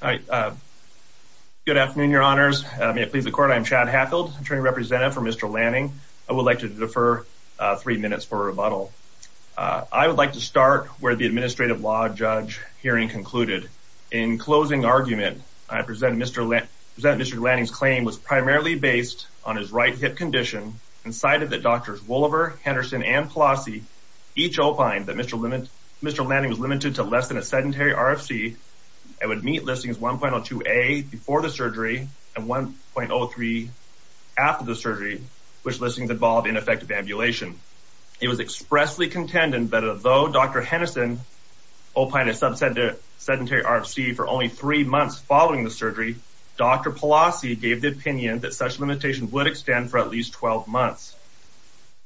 Good afternoon, your honors. May it please the court, I'm Chad Hackfield, attorney representative for Mr. Lanning. I would like to defer three minutes for rebuttal. I would like to start where the administrative law judge hearing concluded. In closing argument, I present Mr. Lanning's claim was primarily based on his right hip condition and cited that Drs. Woliver, Henderson, and Pelosi each opined that Mr. Lanning was limited to less than a sedentary RFC and would meet listings 1.02a before the surgery and 1.03 after the surgery, which listings involved ineffective ambulation. It was expressly contended that although Dr. Henderson opined a sub-sedentary RFC for only three months following the surgery, Dr. Pelosi gave the opinion that such a limitation would extend for at least 12 months.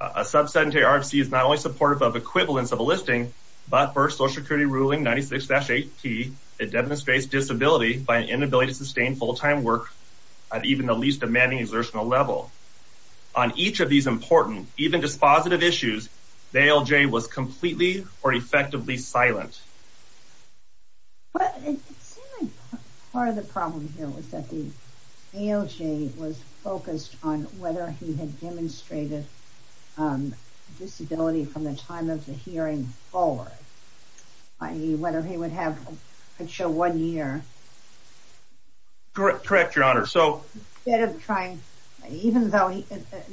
A sub-sedentary RFC is not only supportive of equivalence of a listing, but for Social Security ruling 96-8p, it demonstrates disability by an inability to sustain full-time work at even the least demanding exertional level. On each of these important, even dispositive issues, the ALJ was completely or effectively silent. Part of the problem here was that the ALJ was focused on whether he had demonstrated disability from the time of the hearing forward, i.e. whether he would have a show one year. Correct, Your Honor. The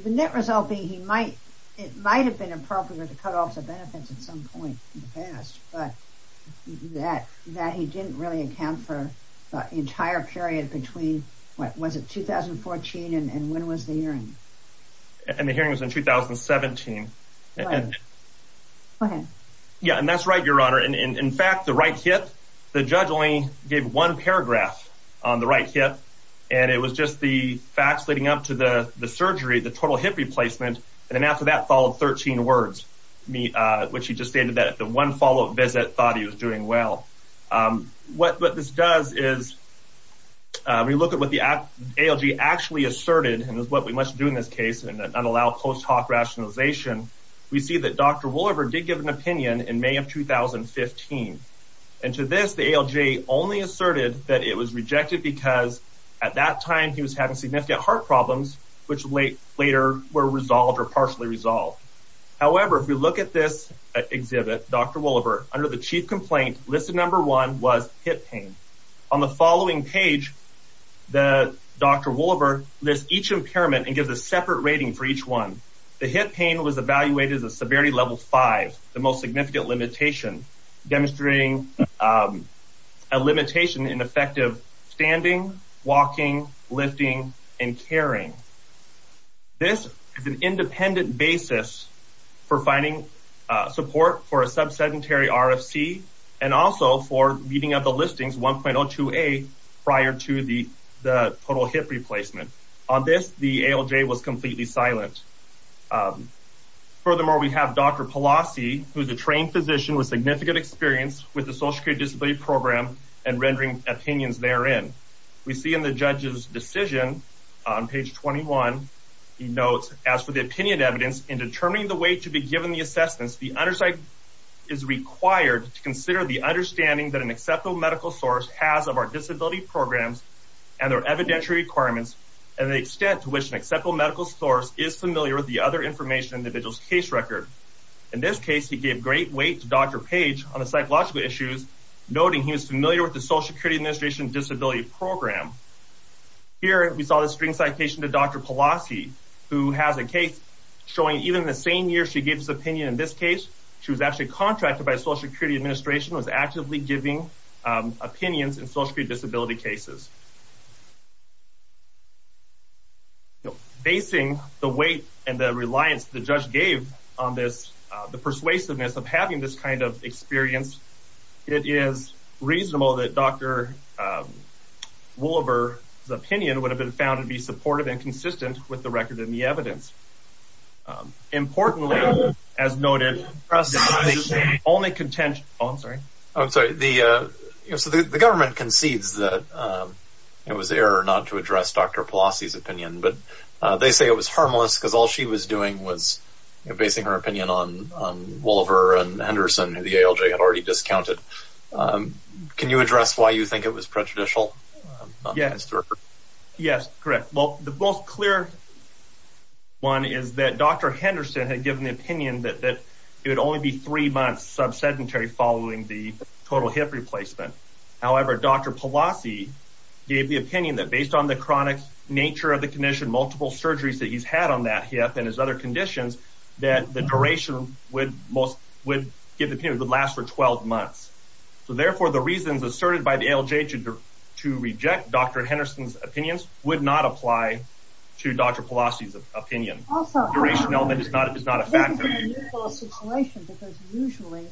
net result being that it might have been appropriate to cut off the benefits at some point in the past, but that he didn't really account for the entire period between, what was it, 2014 and when was the hearing? The hearing was in 2017. Go ahead. Yeah, and that's right, Your Honor. In fact, the right hip, the judge only gave one paragraph on the right hip, and it was just the facts leading up to the surgery, the total hip replacement, and then after that followed 13 words, which he just stated that the one follow-up visit thought he was doing well. What this does is we look at what the ALJ actually asserted, and it's what we must do in this case, and not allow post hoc rationalization. We see that Dr. Woolliver did give an opinion in May of 2015, and to this the ALJ only asserted that it was rejected because at that time he was having significant heart problems, which later were resolved or partially resolved. However, if we look at this exhibit, Dr. Woolliver, under the chief complaint listed number one was hip pain. On the following page, Dr. Woolliver lists each impairment and gives a separate rating for each one. The hip pain was evaluated as a severity level five, the most significant limitation, demonstrating a limitation in effective standing, walking, lifting, and caring. This is an independent basis for finding support for a sub-sedentary RFC and also for meeting up the listings 1.02a prior to the total hip replacement. On this, the ALJ was completely silent. Furthermore, we have Dr. Pelosi, who is a trained physician with significant experience with the Social Care Disability Program and rendering opinions therein. We see in the judge's decision on page 21, he notes, as for the opinion evidence in determining the way to be given the assessments, the underside is required to consider the understanding that an acceptable medical source has of our disability programs and their evidentiary requirements and the extent to which an acceptable medical source is familiar with the other information in the individual's case record. In this case, he gave great weight to Dr. Page on the psychological issues, noting he was familiar with the Social Security Administration Disability Program. Here, we saw the string citation to Dr. Pelosi, who has a case showing even in the same year she gave this opinion in this case, she was actually contracted by the Social Security Administration, was actively giving opinions in Social Security Disability cases. Facing the weight and the reliance the judge gave on this, the persuasiveness of having this kind of experience, it is reasonable that Dr. Woliver's opinion would have been found to be supportive and consistent with the record in the evidence. Importantly, as noted, the government concedes that it was error not to address Dr. Pelosi's opinion, but they say it was harmless because all she was doing was basing her opinion on Woliver and Henderson, who the ALJ had already discounted. Can you address why you think it was prejudicial? Yes, correct. Well, the most clear one is that Dr. Henderson had given the opinion that it would only be three months sub-sedentary following the total hip replacement. However, Dr. Pelosi gave the opinion that based on the chronic nature of the condition, multiple surgeries that he's had on that hip and his other conditions, that the duration would last for 12 months. So therefore, the reasons asserted by the ALJ to reject Dr. Henderson's opinions would not apply to Dr. Pelosi's opinion. This is an unusual situation because usually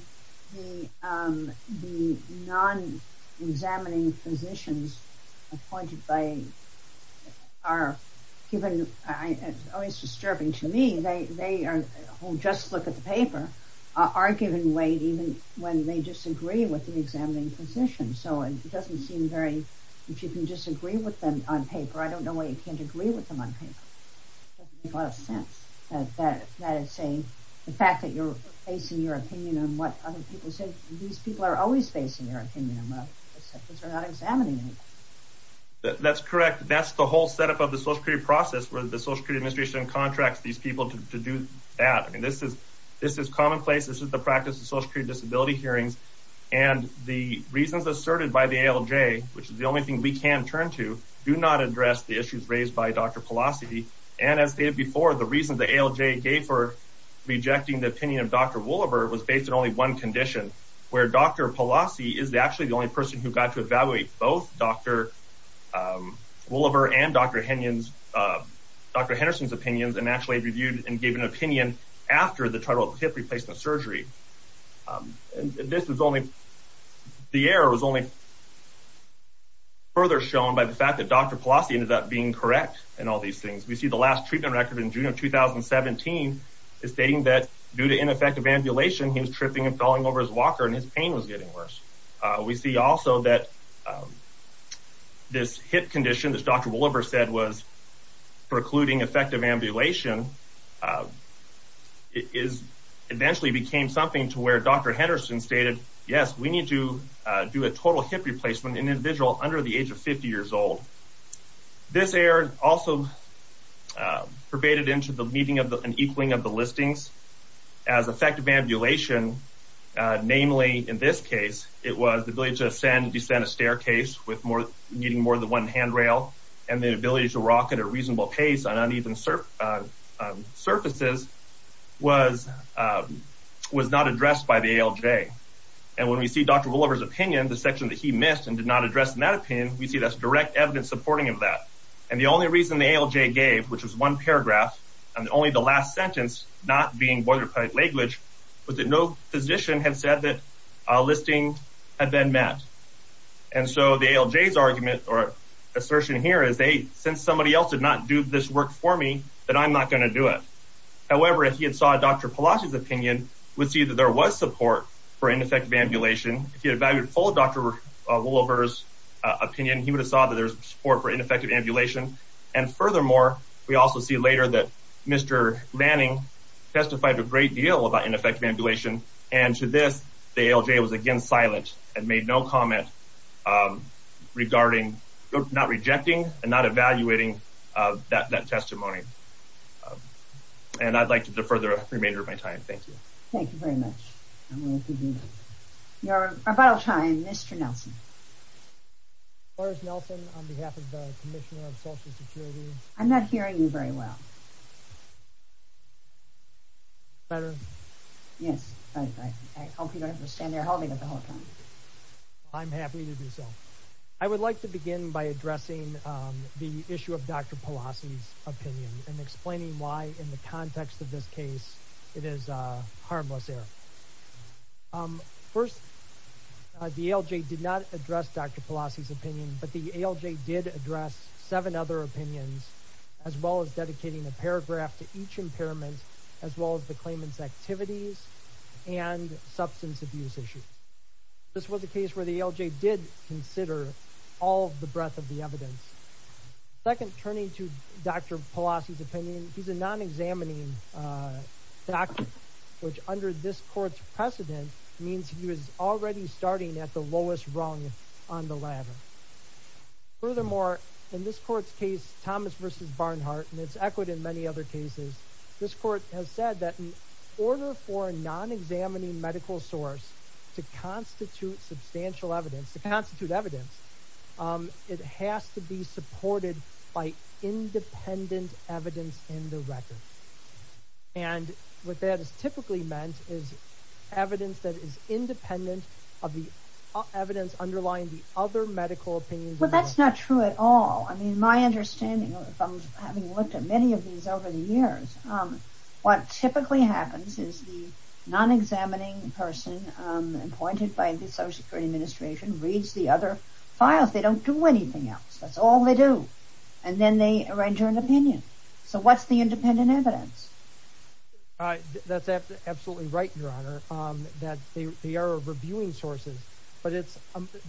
the non-examining physicians appointed by, are given, it's always disturbing to me, they are, who just look at the paper, are given weight even when they disagree with the examining physician. So it doesn't seem very, if you can disagree with them on paper, I don't know why you can't agree with them on paper. It doesn't make a lot of sense. That is saying, the fact that you're basing your opinion on what other people said, these people are always basing their opinion on, because they're not examining anything. That's correct. That's the whole setup of the social security process, where the social security administration contracts these people to do that. I mean, this is commonplace. This is the practice of social security disability hearings. And the reasons asserted by the ALJ, which is the only thing we can turn to, do not address the issues raised by Dr. Pelosi. And as stated before, the reason the ALJ gave for rejecting the opinion of Dr. Woolliver was based on only one condition, where Dr. Pelosi is actually the only person who got to evaluate both Dr. Woolliver and Dr. Henderson's opinions, and actually reviewed and gave an opinion after the total hip replacement surgery. This was only, the error was only further shown by the fact that Dr. Pelosi ended up being correct in all these things. We see the last treatment record in June of 2017 is stating that due to ineffective ambulation, he was tripping and falling over his walker, and his pain was getting worse. We see also that this hip condition, as Dr. Woolliver said, was precluding effective ambulation, it eventually became something to where Dr. Henderson stated, yes, we need to do a total hip replacement in an individual under the age of 50 years old. This error also pervaded into the meeting and equaling of the listings as effective ambulation, namely in this case, it was the ability to ascend and descend a staircase needing more than one handrail, and the ability to rock at a reasonable pace on uneven surfaces was not addressed by the ALJ. And when we see Dr. Woolliver's opinion, the section that he missed and did not address in that opinion, we see that's direct evidence supporting of that. And the only reason the ALJ gave, which was one paragraph, and only the last sentence, not being boilerplate language, was that no physician had said that a listing had been met. And so the ALJ's argument or assertion here is, hey, since somebody else did not do this work for me, then I'm not going to do it. However, if he had saw Dr. Pelosi's opinion, we'd see that there was support for ineffective ambulation. If he had evaluated full Dr. Woolliver's opinion, he would have saw that there was support for ineffective ambulation. And furthermore, we also see later that Mr. Manning testified a great deal about ineffective ambulation. And to this, the ALJ was again silent and made no comment regarding not rejecting and not evaluating that testimony. And I'd like to defer the remainder of my time. Thank you. Thank you very much. Your final time, Mr. Nelson. Lars Nelson on behalf of the Commissioner of Social Security. I'm not hearing you very well. Better? Yes. I hope you don't have to stand there holding it the whole time. I'm happy to do so. I would like to begin by addressing the issue of Dr. Pelosi's opinion and explaining why, in the context of this case, it is harmless error. First, the ALJ did not address Dr. Pelosi's opinion, but the ALJ did address seven other opinions, as well as dedicating a paragraph to each impairment, as well as the claimant's activities and substance abuse issues. This was a case where the ALJ did consider all of the breadth of the evidence. Second, turning to Dr. Pelosi's opinion, he's a non-examining doctor, which, under this court's precedent, means he was already starting at the lowest rung on the ladder. Furthermore, in this court's case, Thomas v. Barnhart, and it's echoed in many other cases, this court has said that in order for a non-examining medical source to constitute substantial evidence, it has to be supported by independent evidence in the record. And what that has typically meant is evidence that is independent of the evidence underlying the other medical opinions. Well, that's not true at all. I mean, my understanding, having looked at many of these over the years, what typically happens is the non-examining person appointed by the Social Security Administration reads the other files. They don't do anything else. That's all they do. And then they render an opinion. So what's the independent evidence? That's absolutely right, Your Honor. They are reviewing sources, but it's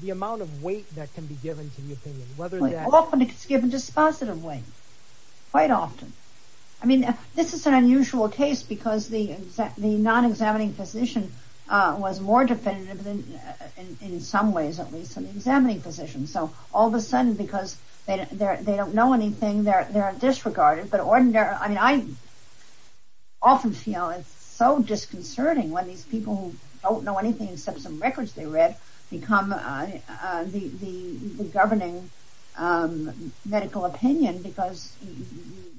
the amount of weight that can be given to the opinion. Often it's given dispositive weight. Quite often. I mean, this is an unusual case because the non-examining physician was more definitive, in some ways at least, than the examining physician. So all of a sudden, because they don't know anything, they're disregarded. But I often feel it's so disconcerting when these people who don't know anything except some records they read become the governing medical opinion because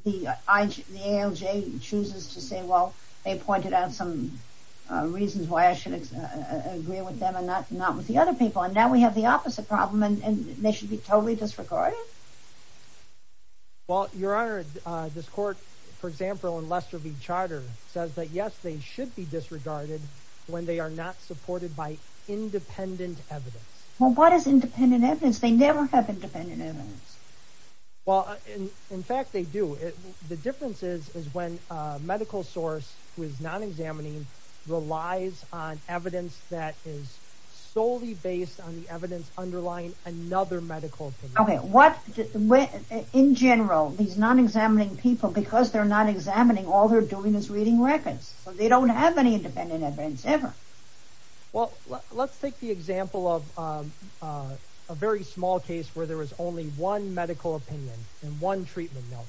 the ALJ chooses to say, well, they pointed out some reasons why I should agree with them and not with the other people. And now we have the opposite problem and they should be totally disregarded? Well, Your Honor, this court, for example, in Lester v. Charter, says that yes, they should be disregarded when they are not supported by independent evidence. Well, what is independent evidence? They never have independent evidence. Well, in fact, they do. The difference is when a medical source who is non-examining relies on evidence that is solely based on the evidence underlying another medical opinion. In general, these non-examining people, because they're not examining, all they're doing is reading records. They don't have any independent evidence, ever. Well, let's take the example of a very small case where there is only one medical opinion and one treatment note.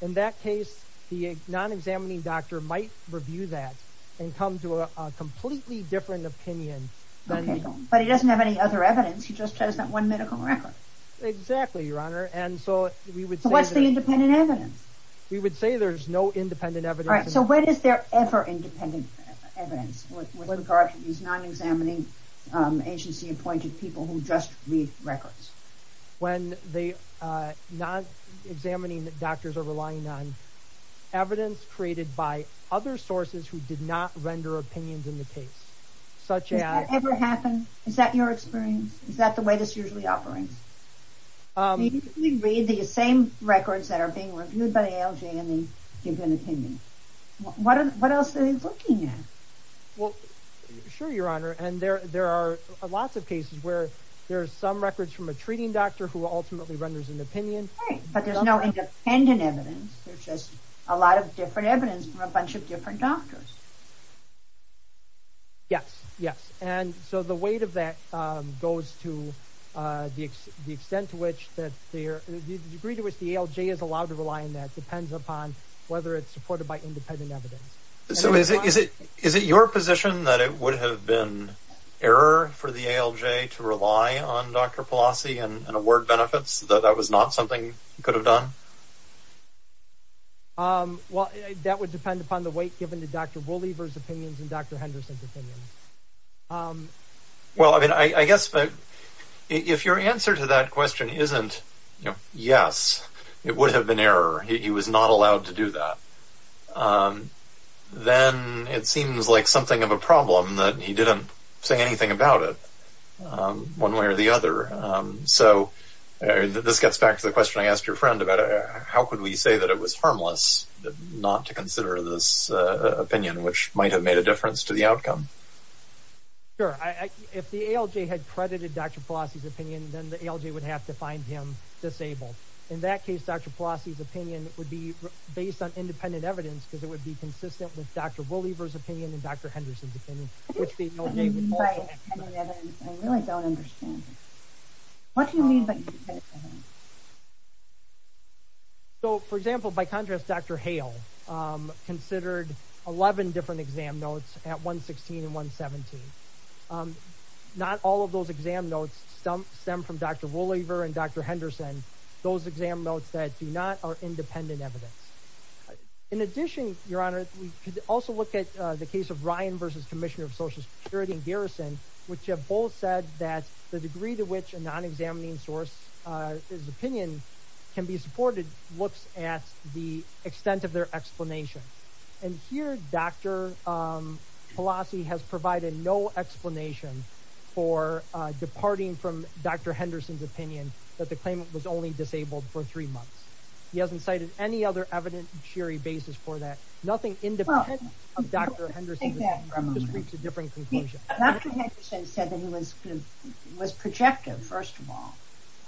In that case, the non-examining doctor might review that and come to a completely different opinion. But he doesn't have any other evidence. He just has that one medical record. Exactly, Your Honor. So what's the independent evidence? We would say there's no independent evidence. So when is there ever independent evidence with regard to these non-examining, agency-appointed people who just read records? When the non-examining doctors are relying on evidence created by other sources who did not render opinions in the case. Does that ever happen? Is that your experience? Is that the way this usually operates? We read the same records that are being reviewed by ALJ and they give an opinion. What else are they looking at? Well, sure, Your Honor, and there are lots of cases where there are some records from a treating doctor who ultimately renders an opinion. Right, but there's no independent evidence. There's just a lot of different evidence from a bunch of different doctors. Yes, yes, and so the weight of that goes to the extent to which the degree to which the ALJ is allowed to rely on that depends upon whether it's supported by independent evidence. So is it your position that it would have been error for the ALJ to rely on Dr. Pelosi and award benefits? That that was not something you could have done? Well, that would depend upon the weight given to Dr. Woolliver's opinions and Dr. Henderson's opinions. Well, I mean, I guess if your answer to that question isn't, you know, yes, it would have been error. He was not allowed to do that. Then it seems like something of a problem that he didn't say anything about it one way or the other. So this gets back to the question I asked your friend about how could we say that it was harmless not to consider this opinion, which might have made a difference to the outcome. Sure, if the ALJ had credited Dr. Pelosi's opinion, then the ALJ would have to find him disabled. In that case, Dr. Pelosi's opinion would be based on independent evidence because it would be consistent with Dr. Woolliver's opinion and Dr. Henderson's opinion. What do you mean by independent evidence? I really don't understand. What do you mean by independent evidence? So, for example, by contrast, Dr. Hale considered 11 different exam notes at 116 and 117. Not all of those exam notes stem from Dr. Woolliver and Dr. Henderson. Those exam notes that do not are independent evidence. In addition, Your Honor, we could also look at the case of Ryan v. Commissioner of Social Security and Garrison, which have both said that the degree to which a non-examining source's opinion can be supported looks at the extent of their explanation. And here, Dr. Pelosi has provided no explanation for departing from Dr. Henderson's opinion that the claimant was only disabled for three months. He hasn't cited any other evidentiary basis for that. Nothing independent of Dr. Henderson's opinion. Dr. Henderson said that he was projective, first of all,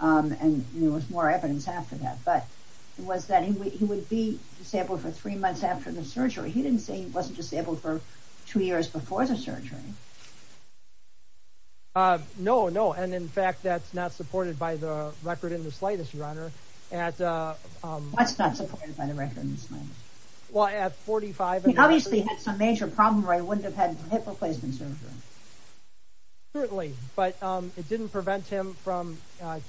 and there was more evidence after that, but it was that he would be disabled for three months after the surgery. He didn't say he wasn't disabled for two years before the surgery. No, no, and in fact, that's not supported by the record in the slightest, Your Honor. That's not supported by the record in the slightest. He obviously had some major problems where he wouldn't have had hip replacement surgery. Certainly, but it didn't prevent him from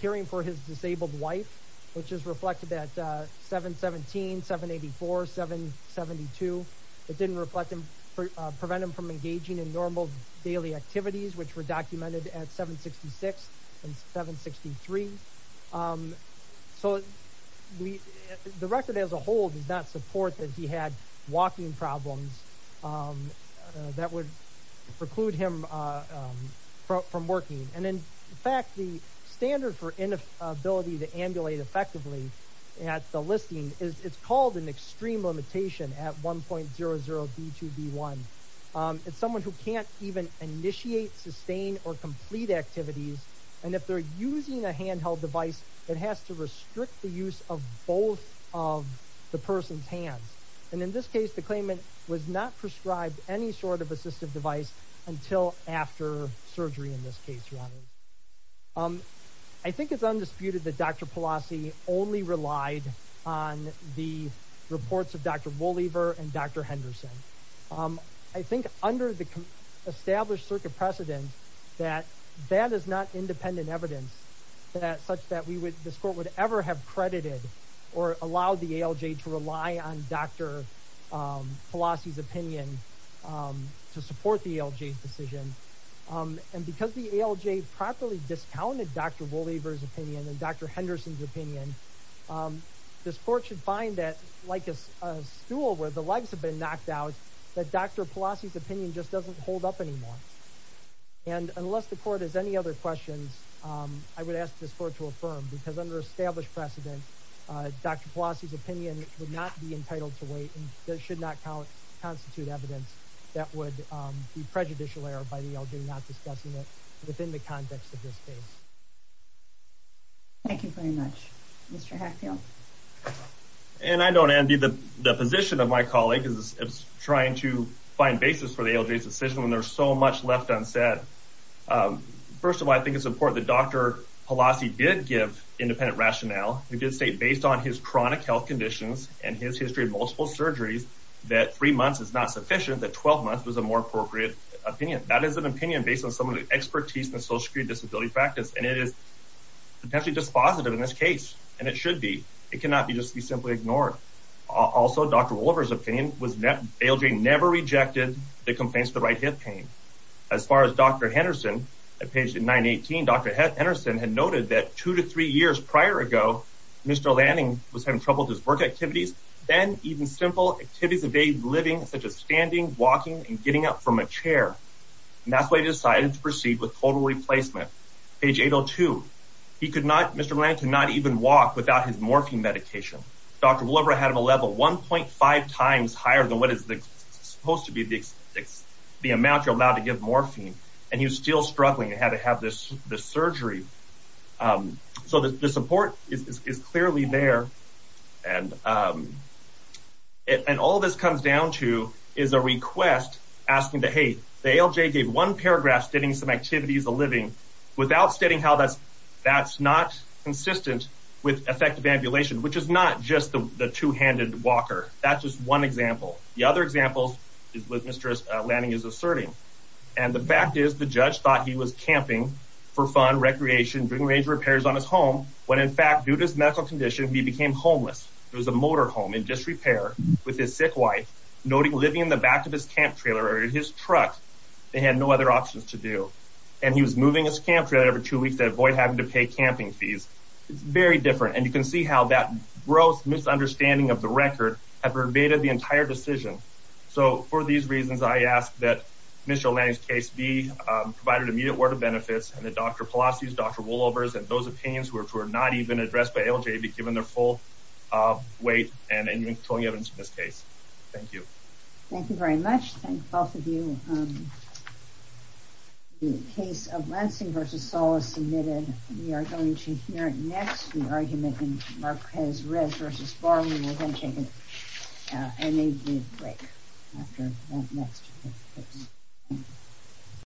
caring for his disabled wife, which is reflected at 717, 784, 772. It didn't prevent him from engaging in normal daily activities, which were documented at 766 and 763. So, the record as a whole does not support that he had walking problems that would preclude him from working. And in fact, the standard for inability to ambulate effectively at the listing, it's called an extreme limitation at 1.00B2B1. It's someone who can't even initiate, sustain, or complete activities, and if they're using a handheld device, it has to restrict the use of both of the person's hands. And in this case, the claimant was not prescribed any sort of assistive device until after surgery, in this case, Your Honor. I think it's undisputed that Dr. Pelosi only relied on the reports of Dr. Wolliver and Dr. Henderson. I think under the established circuit precedent, that that is not independent evidence such that this Court would ever have credited or allowed the ALJ to rely on Dr. Pelosi's opinion to support the ALJ's decision. And because the ALJ properly discounted Dr. Wolliver's opinion and Dr. Henderson's opinion, this Court should find that, like a stool where the legs have been knocked out, that Dr. Pelosi's opinion just doesn't hold up anymore. And unless the Court has any other questions, I would ask this Court to affirm, because under established precedent, Dr. Pelosi's opinion would not be entitled to wait, and should not constitute evidence that would be prejudicial error by the ALJ not discussing it within the context of this case. Thank you very much. Mr. Hackfield? And I don't envy the position of my colleague who's trying to find basis for the ALJ's decision when there's so much left unsaid. First of all, I think it's important that Dr. Pelosi did give independent rationale. He did state, based on his chronic health conditions and his history of multiple surgeries, that three months is not sufficient, that 12 months was a more appropriate opinion. That is an opinion based on some of the expertise in the social security disability practice, and it is potentially dispositive in this case, and it should be. It cannot just be simply ignored. Also, Dr. Wolliver's opinion was that the ALJ never rejected the complaints of the right hip pain. As far as Dr. Henderson, at page 918, Dr. Henderson had noted that two to three years prior ago, Mr. Lanning was having trouble with his work activities. Then, even simple activities evade living, such as standing, walking, and getting up from a chair. And that's why he decided to proceed with total replacement. Page 802, he could not, Mr. Lanning could not even walk without his morphine medication. Dr. Wolliver had him a level 1.5 times higher than what is supposed to be the amount you're allowed to give morphine, and he was still struggling. He had to have this surgery. So the support is clearly there. And all this comes down to is a request asking that, hey, the ALJ gave one paragraph stating some activities of living without stating how that's not consistent with effective ambulation, which is not just the two-handed walker. That's just one example. The other example is what Mr. Lanning is asserting. And the fact is the judge thought he was camping for fun, recreation, doing major repairs on his home when, in fact, due to his medical condition, he became homeless. It was a motor home in disrepair with his sick wife living in the back of his camp trailer or his truck. They had no other options to do. And he was moving his camp trailer every two weeks to avoid having to pay camping fees. It's very different. And you can see how that gross misunderstanding of the record had verbatim the entire decision. So for these reasons, I ask that Mr. Lanning's case be provided immediate word of benefits and that Dr. Pelosi's, Dr. Wolliver's, and those opinions, which were not even addressed by ALJ, be given their full weight in controlling evidence in this case. Thank you. Thank you very much. Thank both of you. The case of Lansing v. Sala is submitted. We are going to hear next the argument in Marquez-Rez v. Barley. We'll then take an immediate break after that next case.